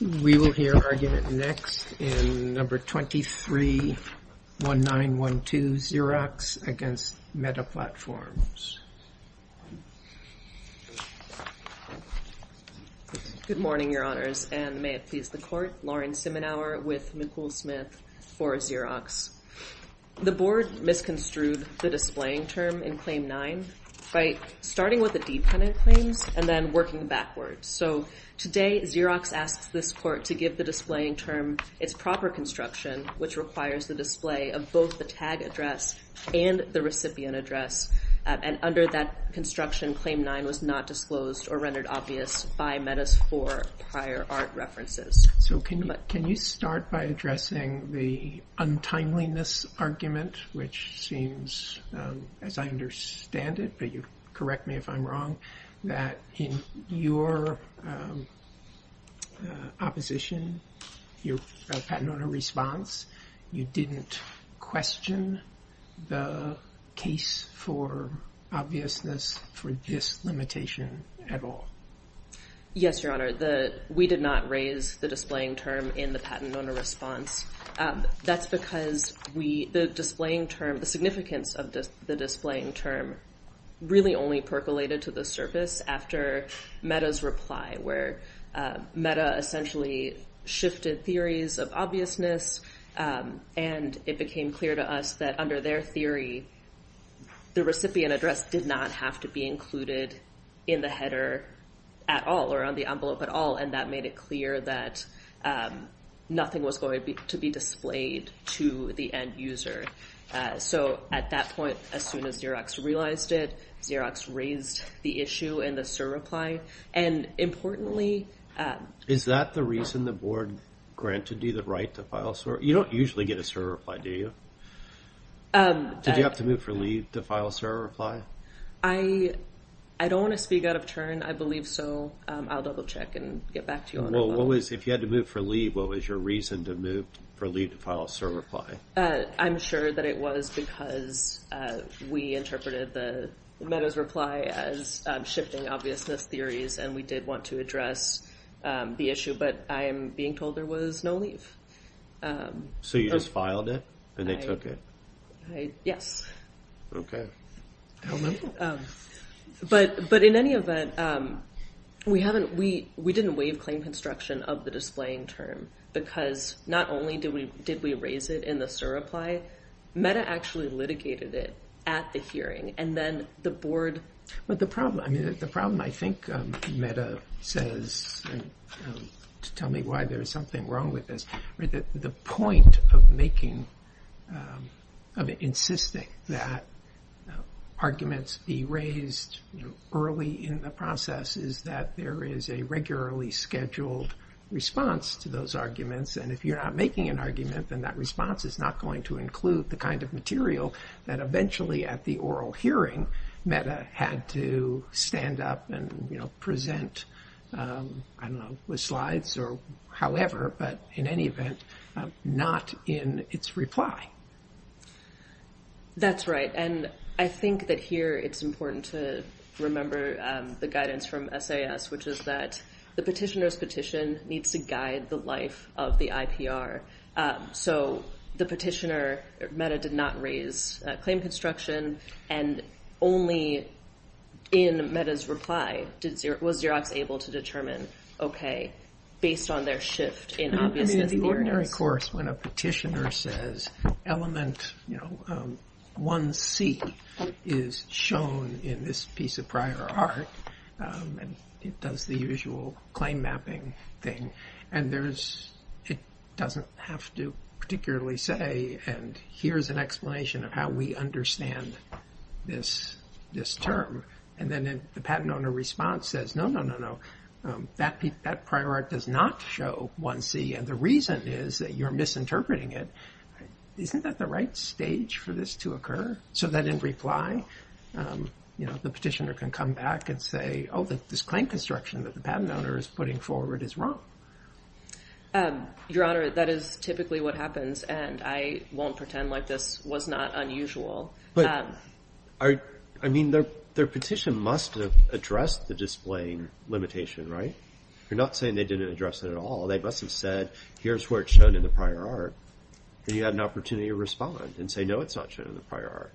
We will hear argument next in No. 23-1912, Xerox v. Meta Platforms. Good morning, Your Honors, and may it please the Court. Lauren Simenauer with Nicole Smith for Xerox. The Board misconstrued the displaying term in Claim 9 by starting with the dependent claims and then working backwards. So today, Xerox asks this Court to give the displaying term its proper construction, which requires the display of both the tag address and the recipient address. And under that construction, Claim 9 was not disclosed or rendered obvious by Meta's four prior art references. So can you start by addressing the untimeliness argument, which seems, as I understand it, but you correct me if I'm wrong, that in your opposition, your patent owner response, you didn't question the case for obviousness for this limitation at all? Yes, Your Honor. We did not raise the displaying term in the patent owner response. That's because the significance of the displaying term really only percolated to the surface after Meta's reply, where Meta essentially shifted theories of obviousness, and it became clear to us that under their theory, the recipient address did not have to be included in the header at all or on the envelope at all, and that made it clear that nothing was going to be displayed to the end user. So at that point, as soon as Xerox realized it, Xerox raised the issue in the SIR reply. And importantly, is that the reason the board granted you the right to file SIR? You don't usually get a SIR reply, do you? Did you have to move for leave to file a SIR reply? I don't want to speak out of turn. I believe so. I'll double check and get back to you on that. Well, if you had to move for leave, what was your reason to move for leave to file a SIR reply? I'm sure that it was because we interpreted Meta's reply as shifting obviousness theories, and we did want to address the issue, but I am being told there was no leave. So you just filed it, and they took it? Yes. Okay. But in any event, we didn't waive claim construction of the displaying term, because not only did we raise it in the SIR reply, Meta actually litigated it at the hearing, and then the board— But the problem, I mean, the problem I think Meta says, to tell me why there is something wrong with this, the point of making, of insisting that arguments be raised early in the process is that there is a regularly scheduled response to those arguments, and if you're not making an argument, then that response is not going to include the kind of material that eventually at the oral hearing, Meta had to stand up and present, I don't know, with slides or however, but in any event, not in its reply. That's right, and I think that here it's important to remember the guidance from SAS, which is that the petitioner's petition needs to guide the life of the IPR. So the petitioner, Meta, did not raise claim construction, and only in Meta's reply was Xerox able to determine, okay, based on their shift in obviousness— I mean, in the ordinary course, when a petitioner says, element 1C is shown in this piece of prior art, and it does the usual claim mapping thing, and it doesn't have to particularly say, and here's an explanation of how we understand this term, and then the patent owner response says, no, no, no, no, that prior art does not show 1C, and the reason is that you're misinterpreting it. Isn't that the right stage for this to occur? So that in reply, the petitioner can come back and say, oh, this claim construction that the patent owner is putting forward is wrong. Your Honor, that is typically what happens, and I won't pretend like this was not unusual. But, I mean, their petition must have addressed the displaying limitation, right? You're not saying they didn't address it at all. They must have said, here's where it's shown in the prior art, and you had an opportunity to respond and say, no, it's not shown in the prior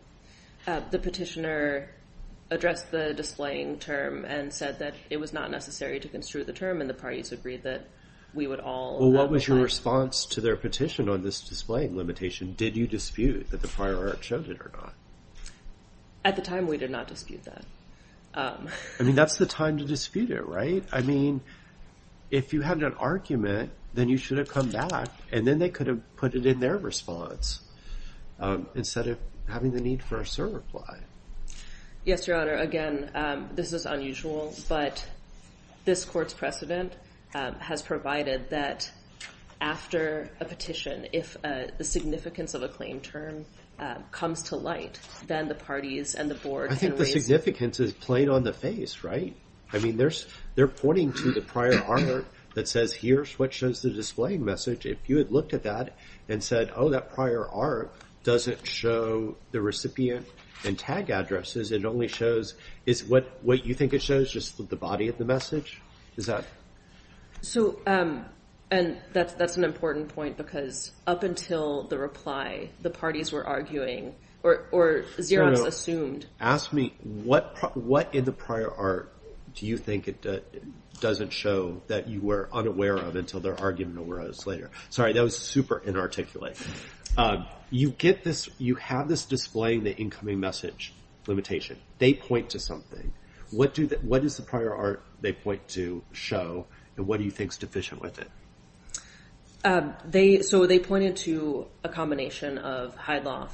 art. The petitioner addressed the displaying term and said that it was not necessary to construe the term, and the parties agreed that we would all— Well, what was your response to their petition on this displaying limitation? Did you dispute that the prior art showed it or not? At the time, we did not dispute that. I mean, that's the time to dispute it, right? I mean, if you had an argument, then you should have come back, and then they could have put it in their response instead of having the need for a server fly. Yes, Your Honor, again, this is unusual, but this court's precedent has provided that after a petition, if the significance of a claim term comes to light, then the parties and the board can raise— I think the significance is plain on the face, right? I mean, they're pointing to the prior art that says, here's what shows the displaying message. If you had looked at that and said, oh, that prior art doesn't show the recipient and tag addresses. It only shows—is what you think it shows just the body of the message? Is that— So, and that's an important point, because up until the reply, the parties were arguing, or Xerox assumed— Your Honor, ask me, what in the prior art do you think it doesn't show that you were unaware of until their argument arose later? Sorry, that was super inarticulate. You get this—you have this displaying the incoming message limitation. They point to something. What is the prior art they point to show, and what do you think's deficient with it? So, they pointed to a combination of Hyloff,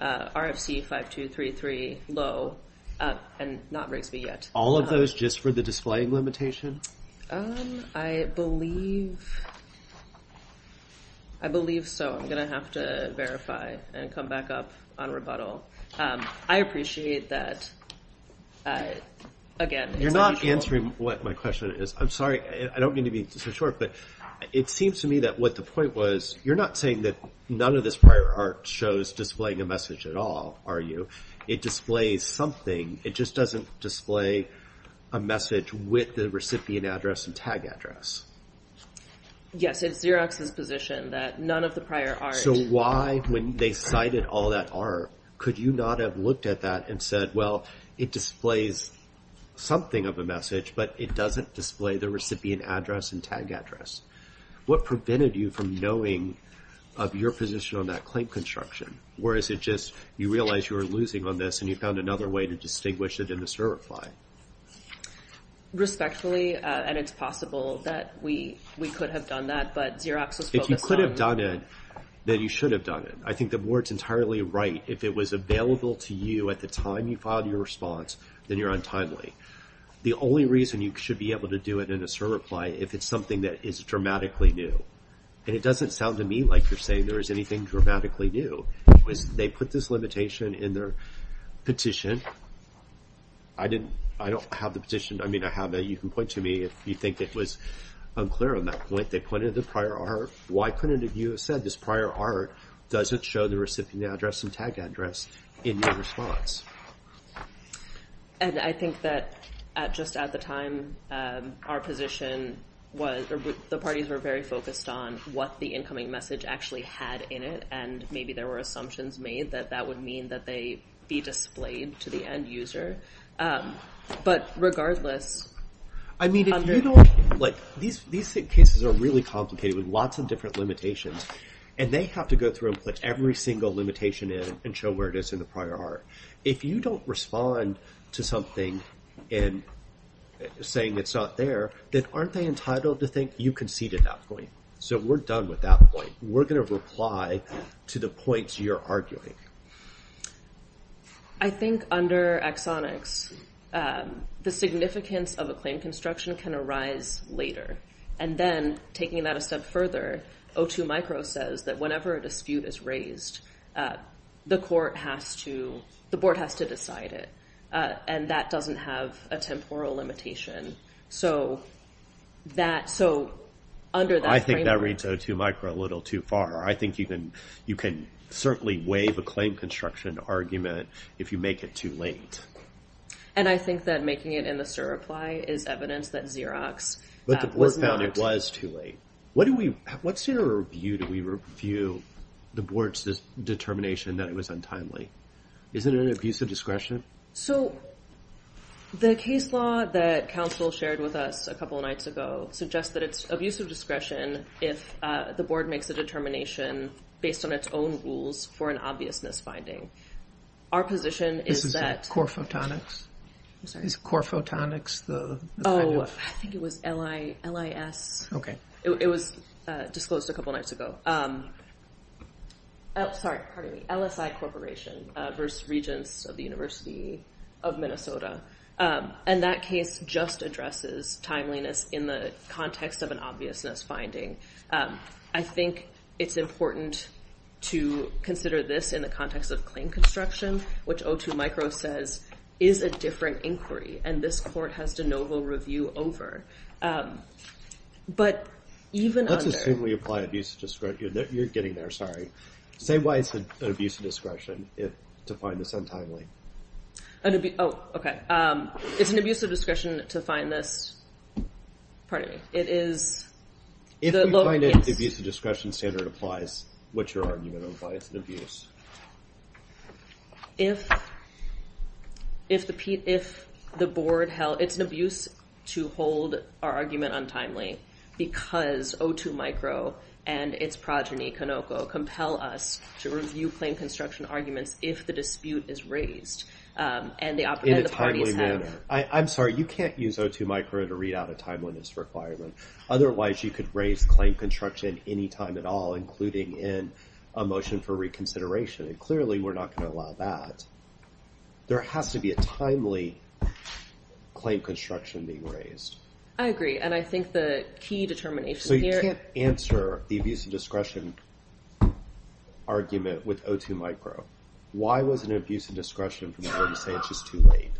RFC 5233, Low, and NotBrakesMeYet. All of those just for the displaying limitation? I believe so. I'm going to have to verify and come back up on rebuttal. I appreciate that, again— You're not answering what my question is. I'm sorry. I don't mean to be so short, but it seems to me that what the point was, you're not saying that none of this prior art shows displaying a message at all, are you? It displays something. It just doesn't display a message with the recipient address and tag address. Yes, it's Xerox's position that none of the prior art— So, why, when they cited all that art, could you not have looked at that and said, well, it displays something of a message, but it doesn't display the recipient address and tag address? What prevented you from knowing of your position on that claim construction? Or is it just you realized you were losing on this, and you found another way to distinguish it in the certify? Respectfully, and it's possible that we could have done that, but Xerox was focused on— If you could have done it, then you should have done it. I think the board's entirely right. If it was available to you at the time you filed your response, then you're untimely. The only reason you should be able to do it in a certify if it's something that is dramatically new. And it doesn't sound to me like you're saying there is anything dramatically new. They put this limitation in their petition. I don't have the petition. I mean, I have it. You can point to me if you think it was unclear on that point. They pointed to the prior art. Why couldn't you have said this prior art doesn't show the recipient address and tag address in your response? And I think that just at the time, our position was— the parties were very focused on what the incoming message actually had in it, and maybe there were assumptions made that that would mean that they be displayed to the end user. But regardless— I mean, if you don't— These cases are really complicated with lots of different limitations, and they have to go through and put every single limitation in and show where it is in the prior art. If you don't respond to something in saying it's not there, then aren't they entitled to think you conceded that point? So we're done with that point. We're going to reply to the points you're arguing. I think under exonics, the significance of a claim construction can arise later. And then taking that a step further, O2 Micro says that whenever a dispute is raised, the court has to—the board has to decide it. And that doesn't have a temporal limitation. So under that framework— I think that reads O2 Micro a little too far. I think you can certainly waive a claim construction argument if you make it too late. And I think that making it in the SIR reply is evidence that Xerox was not— But the board found it was too late. What's your view? Do we review the board's determination that it was untimely? Isn't it an abuse of discretion? So the case law that counsel shared with us a couple of nights ago suggests that it's abuse of discretion if the board makes a determination based on its own rules for an obvious misfinding. Our position is that— This is core photonics? Is core photonics the kind of— Oh, I think it was LIS. Okay. It was disclosed a couple of nights ago. Sorry, pardon me. LSI Corporation versus Regents of the University of Minnesota. And that case just addresses timeliness in the context of an obvious misfinding. I think it's important to consider this in the context of claim construction, which O2 Micro says is a different inquiry, and this court has de novo review over. But even under— You're getting there. Sorry. Say why it's an abuse of discretion to find this untimely. Oh, okay. It's an abuse of discretion to find this— Pardon me. It is— If we find it abuse of discretion standard applies, what's your argument on why it's an abuse? If the board held— It's an abuse to hold our argument untimely, because O2 Micro and its progeny, Canoco, compel us to review claim construction arguments if the dispute is raised, and the parties have— In a timely manner. I'm sorry, you can't use O2 Micro to read out a timeliness requirement. Otherwise, you could raise claim construction any time at all, including in a motion for reconsideration, and clearly we're not going to allow that. There has to be a timely claim construction being raised. I agree, and I think the key determination here— So you can't answer the abuse of discretion argument with O2 Micro. Why was it an abuse of discretion for the board to say it's just too late?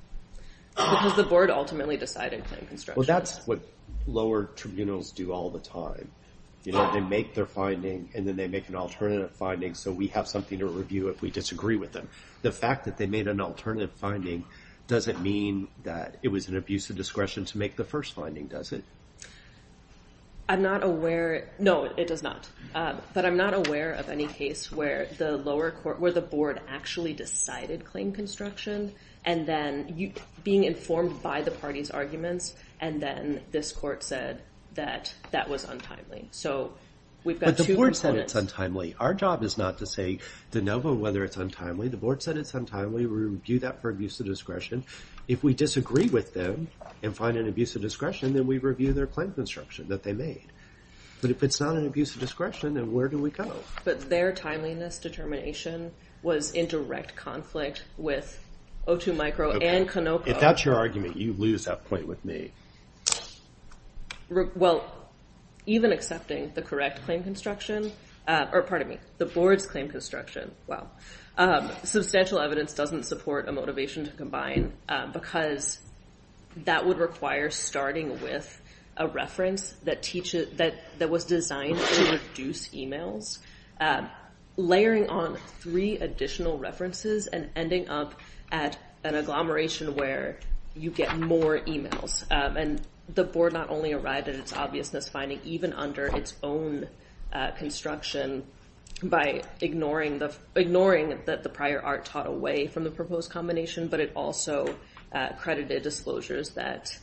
Because the board ultimately decided claim construction. Well, that's what lower tribunals do all the time. They make their finding, and then they make an alternative finding, so we have something to review if we disagree with them. The fact that they made an alternative finding doesn't mean that it was an abuse of discretion to make the first finding, does it? I'm not aware—No, it does not. But I'm not aware of any case where the lower court— where the board actually decided claim construction, and then being informed by the party's arguments, and then this court said that that was untimely. But the board said it's untimely. Our job is not to say de novo whether it's untimely. The board said it's untimely. We review that for abuse of discretion. If we disagree with them and find an abuse of discretion, then we review their claim construction that they made. But if it's not an abuse of discretion, then where do we go? But their timeliness determination was in direct conflict with O2 Micro and Canopo. If that's your argument, you lose that point with me. Well, even accepting the correct claim construction— or, pardon me, the board's claim construction. Substantial evidence doesn't support a motivation to combine, because that would require starting with a reference that was designed to reduce emails, layering on three additional references, and ending up at an agglomeration where you get more emails. And the board not only arrived at its obviousness finding, even under its own construction, by ignoring that the prior art taught away from the proposed combination, but it also credited disclosures that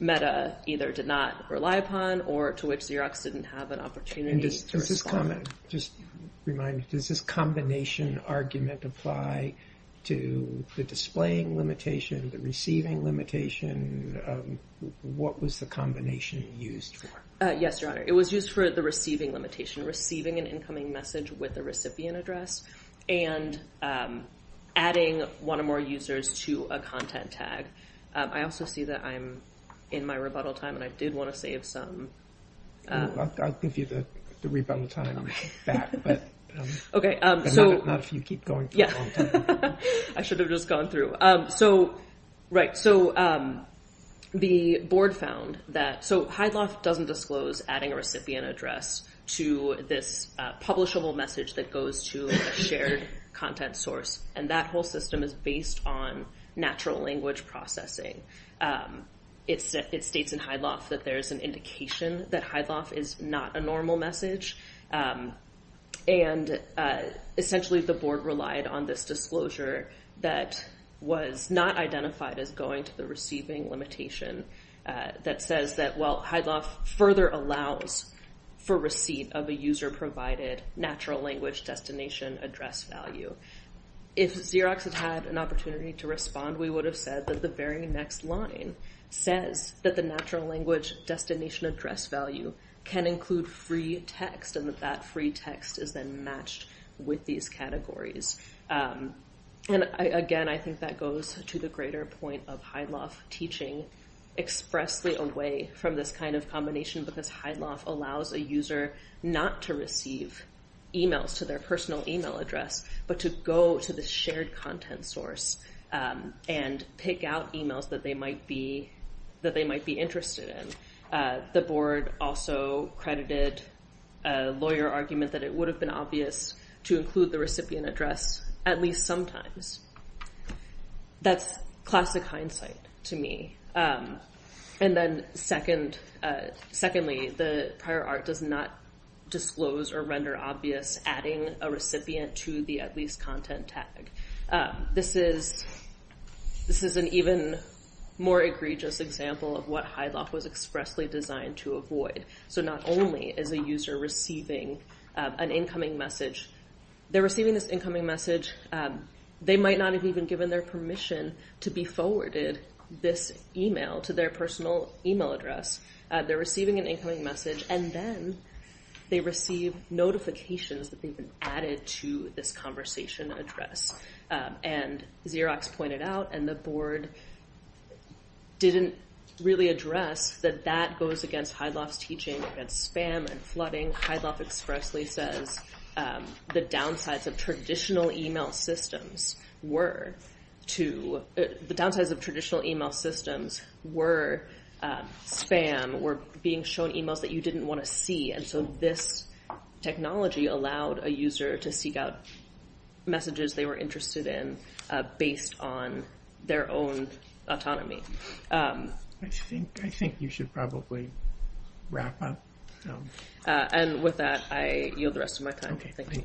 META either did not rely upon or to which Xerox didn't have an opportunity to respond. Just a reminder, does this combination argument apply to the displaying limitation, the receiving limitation? What was the combination used for? Yes, Your Honor. It was used for the receiving limitation, receiving an incoming message with a recipient address and adding one or more users to a content tag. I also see that I'm in my rebuttal time, and I did want to save some. I'll give you the rebuttal time back, but not if you keep going for a long time. I should have just gone through. Right, so the board found that Hyde Loft doesn't disclose adding a recipient address to this publishable message that goes to a shared content source, and that whole system is based on natural language processing. It states in Hyde Loft that there's an indication that Hyde Loft is not a normal message, and essentially the board relied on this disclosure that was not identified as going to the receiving limitation that says that, well, Hyde Loft further allows for receipt of a user-provided natural language destination address value. If Xerox had had an opportunity to respond, we would have said that the very next line says that the natural language destination address value can include free text, and that that free text is then matched with these categories. Again, I think that goes to the greater point of Hyde Loft teaching expressly away from this kind of combination, because Hyde Loft allows a user not to receive emails to their personal email address, but to go to the shared content source and pick out emails that they might be interested in. The board also credited a lawyer argument that it would have been obvious to include the recipient address at least sometimes. That's classic hindsight to me. And then secondly, the prior art does not disclose or render obvious adding a recipient to the at least content tag. This is an even more egregious example of what Hyde Loft was expressly designed to avoid. So not only is a user receiving an incoming message, they're receiving this incoming message, they might not have even given their permission to be forwarded this email to their personal email address. They're receiving an incoming message, and then they receive notifications that they've been added to this conversation address. And Xerox pointed out, and the board didn't really address, that that goes against Hyde Loft's teaching against spam and flooding. Hyde Loft expressly says the downsides of traditional email systems were spam, were being shown emails that you didn't want to see. And so this technology allowed a user to seek out messages they were interested in based on their own autonomy. I think you should probably wrap up. And with that, I yield the rest of my time. Okay, thank you.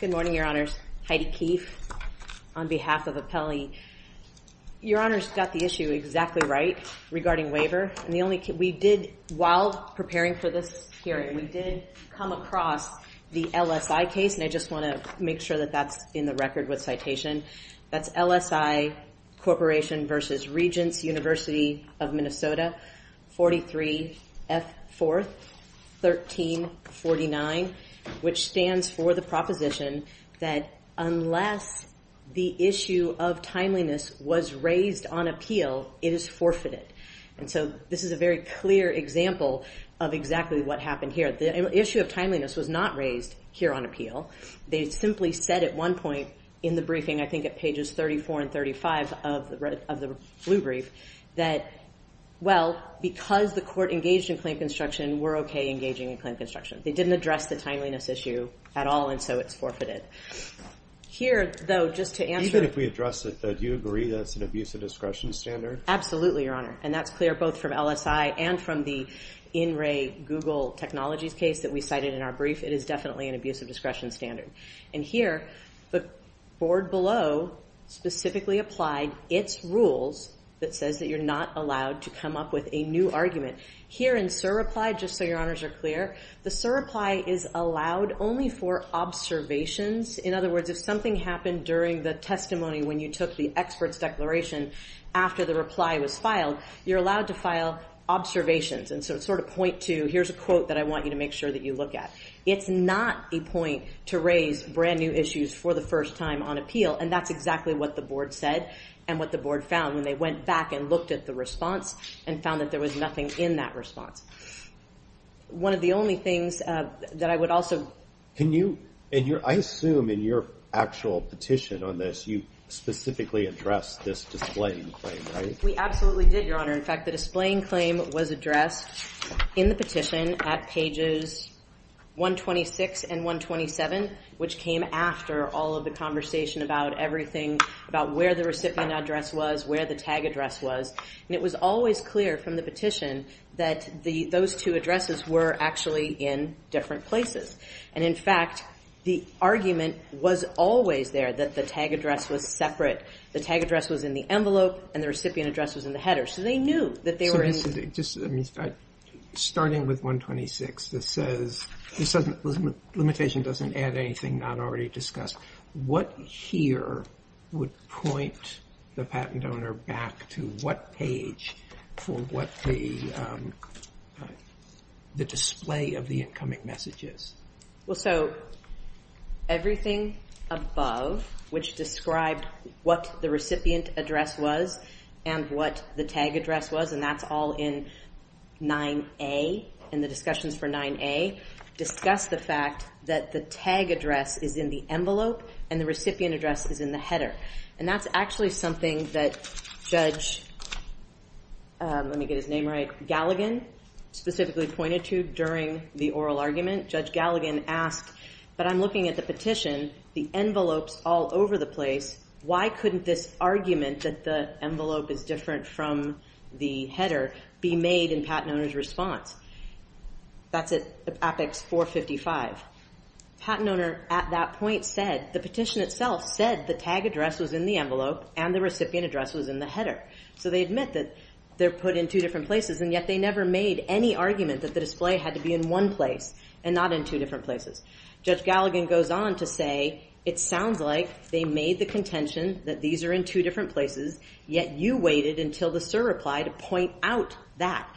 Good morning, Your Honors. Heidi Keefe on behalf of Apelli. Your Honors got the issue exactly right regarding waiver. We did, while preparing for this hearing, we did come across the LSI case, and I just want to make sure that that's in the record with citation. That's LSI Corporation versus Regents University of Minnesota, 43F4, 1349, which stands for the proposition that unless the issue of timeliness was raised on appeal, it is forfeited. And so this is a very clear example of exactly what happened here. The issue of timeliness was not raised here on appeal. They simply said at one point in the briefing, I think at pages 34 and 35 of the blue brief, that, well, because the court engaged in claim construction, we're okay engaging in claim construction. They didn't address the timeliness issue at all, and so it's forfeited. Here, though, just to answer. Even if we address it, do you agree that's an abusive discretion standard? Absolutely, Your Honor. And that's clear both from LSI and from the in-ray Google technologies case that we cited in our brief. It is definitely an abusive discretion standard. And here, the board below specifically applied its rules that says that you're not allowed to come up with a new argument. Here in surreply, just so Your Honors are clear, the surreply is allowed only for observations. In other words, if something happened during the testimony when you took the expert's declaration after the reply was filed, you're allowed to file observations and sort of point to, here's a quote that I want you to make sure that you look at. It's not a point to raise brand-new issues for the first time on appeal. And that's exactly what the board said and what the board found when they went back and looked at the response and found that there was nothing in that response. One of the only things that I would also – Can you – and I assume in your actual petition on this, you specifically addressed this displaying claim, right? We absolutely did, Your Honor. In fact, the displaying claim was addressed in the petition at pages 126 and 127, which came after all of the conversation about everything, about where the recipient address was, where the tag address was. And it was always clear from the petition that those two addresses were actually in different places. And in fact, the argument was always there that the tag address was separate. The tag address was in the envelope and the recipient address was in the header. So they knew that they were in – So this is – I mean, starting with 126, this says – this doesn't – limitation doesn't add anything not already discussed. What here would point the patent owner back to what page for what the display of the incoming message is? Well, so everything above, which described what the recipient address was and what the tag address was, and that's all in 9A, in the discussions for 9A, discussed the fact that the tag address is in the envelope and the recipient address is in the header. And that's actually something that Judge – let me get his name right – Galligan specifically pointed to during the oral argument. Judge Galligan asked, but I'm looking at the petition, the envelope's all over the place. Why couldn't this argument that the envelope is different from the header be made in patent owner's response? That's at Apex 455. Patent owner at that point said – the petition itself said the tag address was in the envelope and the recipient address was in the header. So they admit that they're put in two different places, and yet they never made any argument that the display had to be in one place. And not in two different places. Judge Galligan goes on to say, it sounds like they made the contention that these are in two different places, yet you waited until the SIR reply to point out that,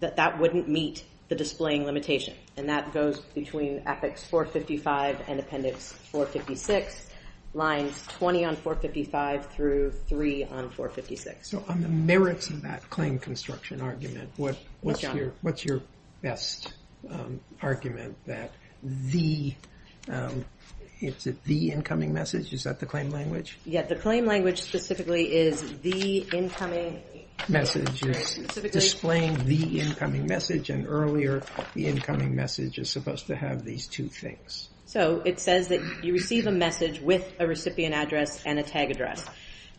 that that wouldn't meet the displaying limitation. And that goes between Apex 455 and Appendix 456, lines 20 on 455 through 3 on 456. So on the merits of that claim construction argument, what's your best argument that the – is it the incoming message? Is that the claim language? Yeah, the claim language specifically is the incoming message. Displaying the incoming message and earlier the incoming message is supposed to have these two things. So it says that you receive a message with a recipient address and a tag address.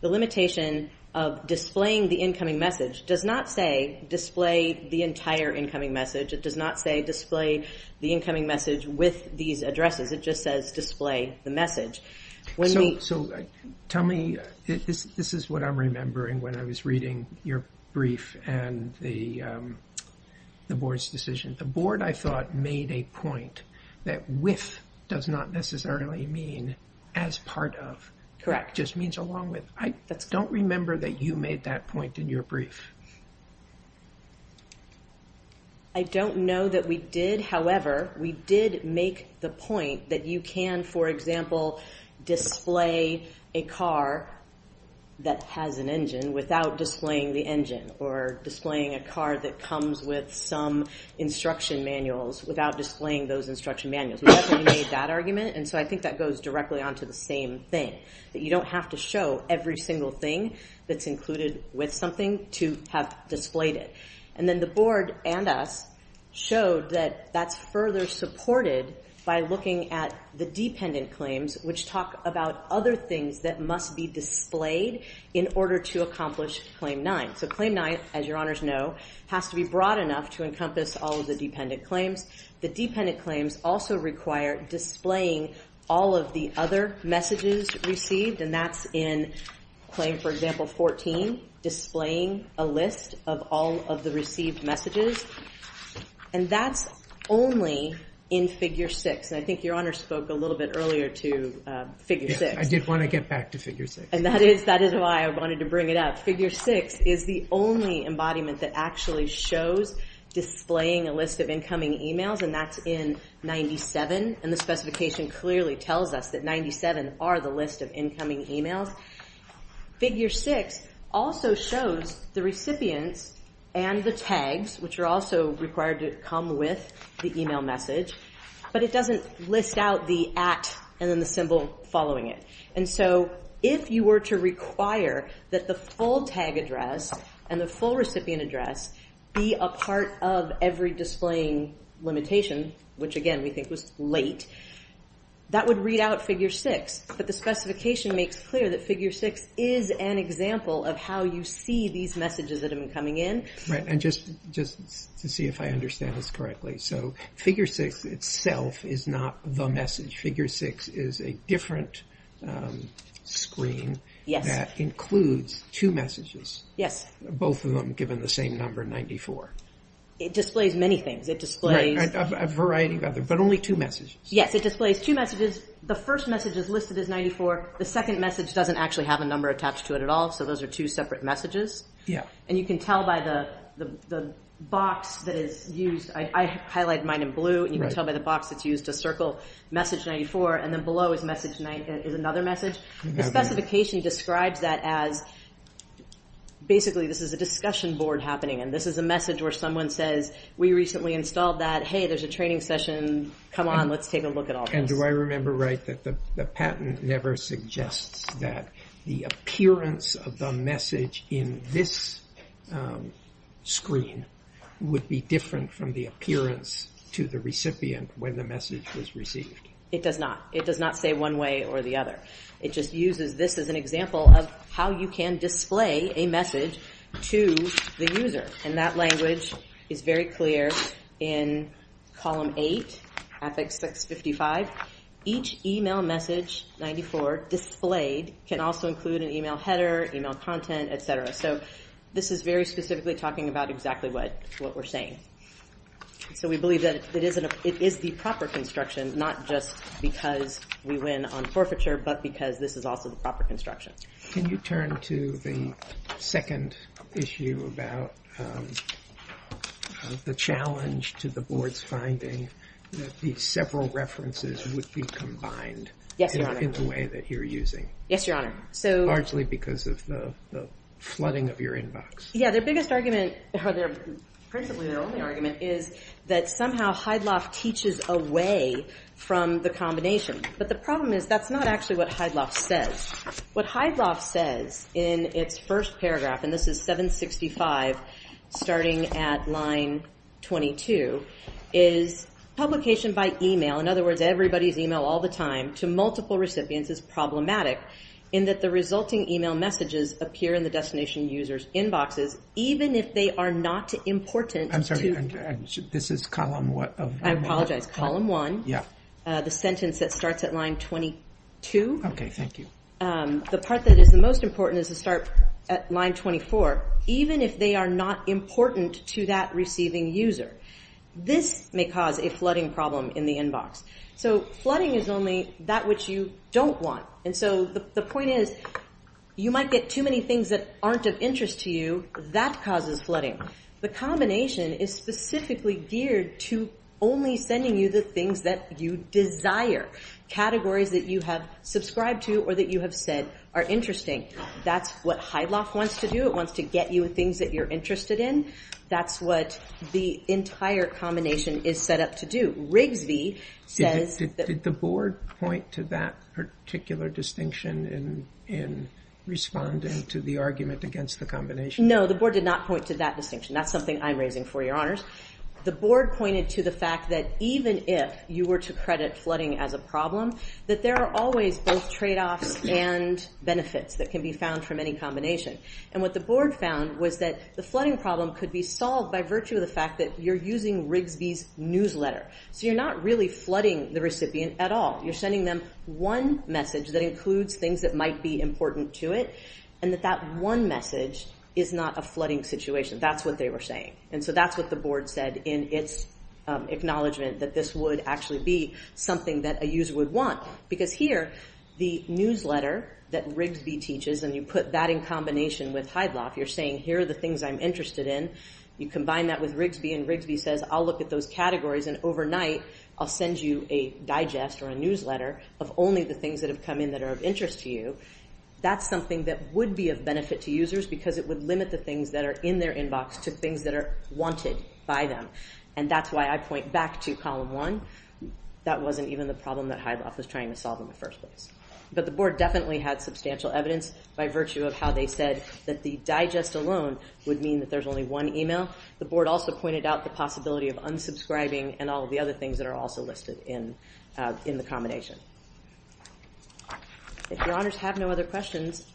The limitation of displaying the incoming message does not say display the entire incoming message. It does not say display the incoming message with these addresses. It just says display the message. So tell me, this is what I'm remembering when I was reading your brief and the board's decision. The board, I thought, made a point that with does not necessarily mean as part of. It just means along with. I don't remember that you made that point in your brief. I don't know that we did. However, we did make the point that you can, for example, display a car that has an engine without displaying the engine or displaying a car that comes with some instruction manuals without displaying those instruction manuals. We definitely made that argument. And so I think that goes directly onto the same thing, that you don't have to show every single thing that's included with something to have displayed it. And then the board and us showed that that's further supported by looking at the dependent claims, which talk about other things that must be displayed in order to accomplish Claim 9. So Claim 9, as your honors know, has to be broad enough to encompass all of the dependent claims. The dependent claims also require displaying all of the other messages received. And that's in Claim, for example, 14, displaying a list of all of the received messages. And that's only in Figure 6. And I think your honors spoke a little bit earlier to Figure 6. I did want to get back to Figure 6. And that is why I wanted to bring it up. Figure 6 is the only embodiment that actually shows displaying a list of incoming emails. And that's in 97. And the specification clearly tells us that 97 are the list of incoming emails. Figure 6 also shows the recipients and the tags, which are also required to come with the email message. But it doesn't list out the at and then the symbol following it. And so if you were to require that the full tag address and the full recipient address be a part of every displaying limitation, which, again, we think was late, that would read out Figure 6. But the specification makes clear that Figure 6 is an example of how you see these messages that have been coming in. Right, and just to see if I understand this correctly. So Figure 6 itself is not the message. Figure 6 is a different screen that includes two messages, both of them given the same number, 94. It displays many things. A variety of other, but only two messages. Yes, it displays two messages. The first message is listed as 94. The second message doesn't actually have a number attached to it at all. So those are two separate messages. And you can tell by the box that is used. I highlighted mine in blue. And you can tell by the box it's used to circle message 94. And then below is another message. The specification describes that as, basically, this is a discussion board happening. And this is a message where someone says, we recently installed that. Hey, there's a training session. Come on, let's take a look at all this. And do I remember right that the patent never suggests that the appearance of the message in this screen would be different from the appearance to the recipient when the message was received? It does not. It does not say one way or the other. It just uses this as an example of how you can display a message to the user. And that language is very clear in column 8, affix 655. Each email message 94 displayed can also include an email header, email content, et cetera. So this is very specifically talking about exactly what we're saying. So we believe that it is the proper construction, not just because we win on forfeiture, but because this is also the proper construction. Can you turn to the second issue about the challenge to the board's finding that these several references would be combined in the way that you're using? Yes, Your Honor. Largely because of the flooding of your inbox. Yeah, their biggest argument, or principally their only argument, is that somehow Hydloff teaches away from the combination. But the problem is that's not actually what Hydloff says. What Hydloff says in its first paragraph, and this is 765 starting at line 22, is publication by email, in other words, everybody's email all the time, to multiple recipients is problematic in that the resulting email messages appear in the destination user's inboxes even if they are not important. This is column what? I apologize. Column 1. Yeah. The sentence that starts at line 22. Okay, thank you. The part that is the most important is to start at line 24, even if they are not important to that receiving user. This may cause a flooding problem in the inbox. So flooding is only that which you don't want. And so the point is you might get too many things that aren't of interest to you. That causes flooding. The combination is specifically geared to only sending you the things that you desire, categories that you have subscribed to or that you have said are interesting. That's what Hydloff wants to do. It wants to get you things that you're interested in. That's what the entire combination is set up to do. Rigsby says that... Did the board point to that particular distinction in responding to the argument against the combination? No, the board did not point to that distinction. That's something I'm raising for your honors. The board pointed to the fact that even if you were to credit flooding as a problem, that there are always both tradeoffs and benefits that can be found from any combination. And what the board found was that the flooding problem could be solved by virtue of the fact that you're using Rigsby's newsletter. So you're not really flooding the recipient at all. You're sending them one message that includes things that might be important to it, and that that one message is not a flooding situation. That's what they were saying. And so that's what the board said in its acknowledgement that this would actually be something that a user would want. Because here, the newsletter that Rigsby teaches, and you put that in combination with Hydloff, you're saying, here are the things I'm interested in. You combine that with Rigsby, and Rigsby says, I'll look at those categories, and overnight, I'll send you a digest or a newsletter of only the things that have come in that are of interest to you. That's something that would be of benefit to users because it would limit the things that are in their inbox to things that are wanted by them. And that's why I point back to Column 1. That wasn't even the problem that Hydloff was trying to solve in the first place. But the board definitely had substantial evidence by virtue of how they said that the digest alone would mean that there's only one email. The board also pointed out the possibility of unsubscribing and all of the other things that are also listed in the combination. If Your Honors have no other questions,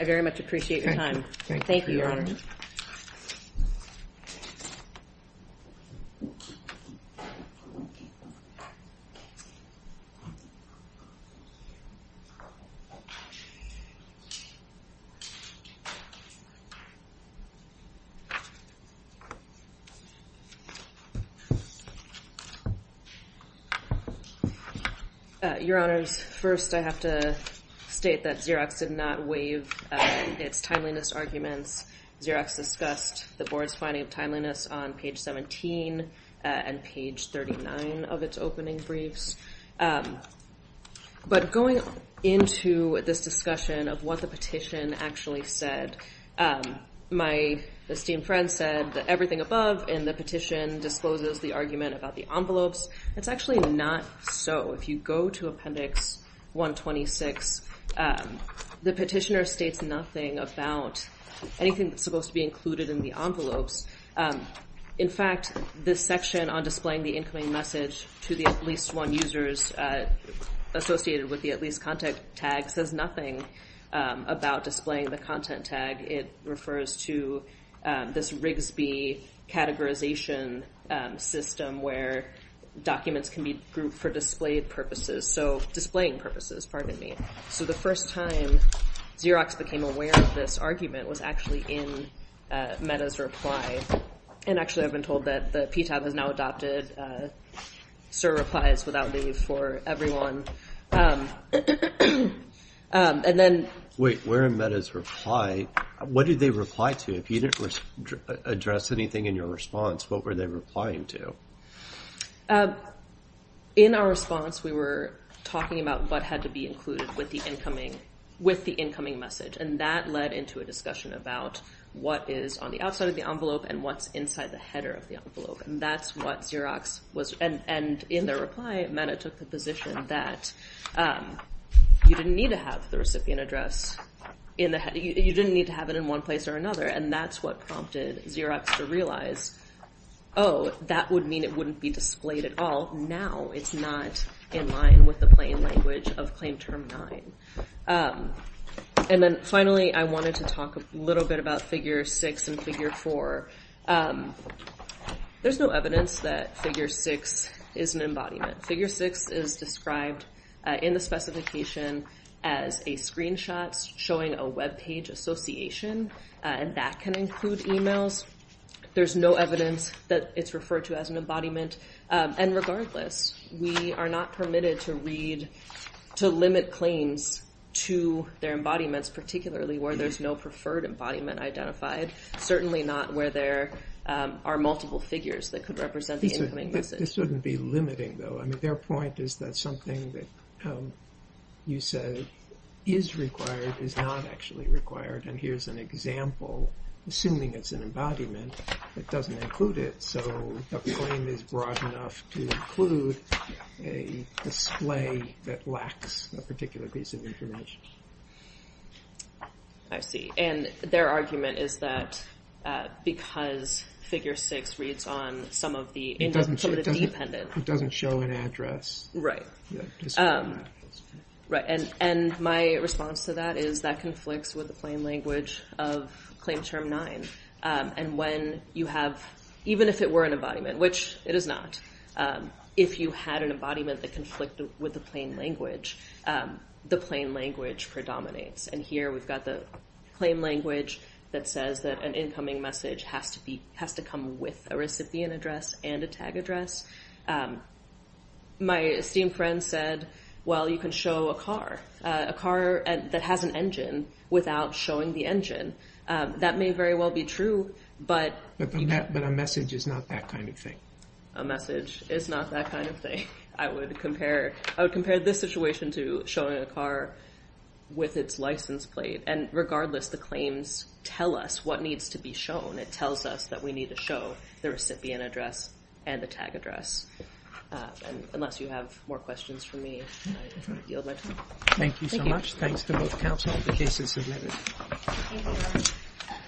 I very much appreciate your time. Thank you, Your Honors. Your Honors, first I have to state that Xerox did not waive its timeliness arguments. Xerox discussed the board's finding of timeliness on page 17 and page 39 of its opening briefs. But going into this discussion of what the petition actually said, my esteemed friend said that everything above in the petition discloses the argument about the envelopes. It's actually not so. If you go to Appendix 126, the petitioner states nothing about anything that's supposed to be included in the envelopes. In fact, this section on displaying the incoming message to the at least one users associated with the at least contact tag says nothing about displaying the content tag. It refers to this Rigsby categorization system where documents can be grouped for displayed purposes, so displaying purposes, pardon me. So the first time Xerox became aware of this argument was actually in Meta's reply. And actually, I've been told that the PTAB has now adopted sir replies without leave for everyone. Wait, where in Meta's reply? What did they reply to? If you didn't address anything in your response, what were they replying to? In our response, we were talking about what had to be included with the incoming message, and that led into a discussion about what is on the outside of the envelope and what's inside the header of the envelope, and that's what Xerox was. And in their reply, Meta took the position that you didn't need to have the recipient address in the header. You didn't need to have it in one place or another, and that's what prompted Xerox to realize, oh, that would mean it wouldn't be displayed at all. Now it's not in line with the plain language of Claim Term 9. And then finally, I wanted to talk a little bit about Figure 6 and Figure 4. There's no evidence that Figure 6 is an embodiment. Figure 6 is described in the specification as a screenshot showing a web page association, and that can include emails. There's no evidence that it's referred to as an embodiment. And regardless, we are not permitted to limit claims to their embodiments, particularly where there's no preferred embodiment identified, certainly not where there are multiple figures that could represent the incoming message. This wouldn't be limiting, though. I mean, their point is that something that you said is required is not actually required. And here's an example. Assuming it's an embodiment, it doesn't include it, so the claim is broad enough to include a display that lacks a particular piece of information. I see. And their argument is that because Figure 6 reads on some of the independent It doesn't show an address. Right. And my response to that is that conflicts with the plain language of Claim Term 9. And when you have, even if it were an embodiment, which it is not, if you had an embodiment that conflicted with the plain language, the plain language predominates. And here we've got the claim language that says that an incoming message has to be with a recipient address and a tag address. My esteemed friend said, well, you can show a car, a car that has an engine without showing the engine. That may very well be true, but But a message is not that kind of thing. A message is not that kind of thing. I would compare this situation to showing a car with its license plate. And regardless, the claims tell us what needs to be shown. It tells us that we need to show the recipient address and the tag address. And unless you have more questions for me, I yield my time. Thank you so much. Thanks to both counsel. The case is submitted.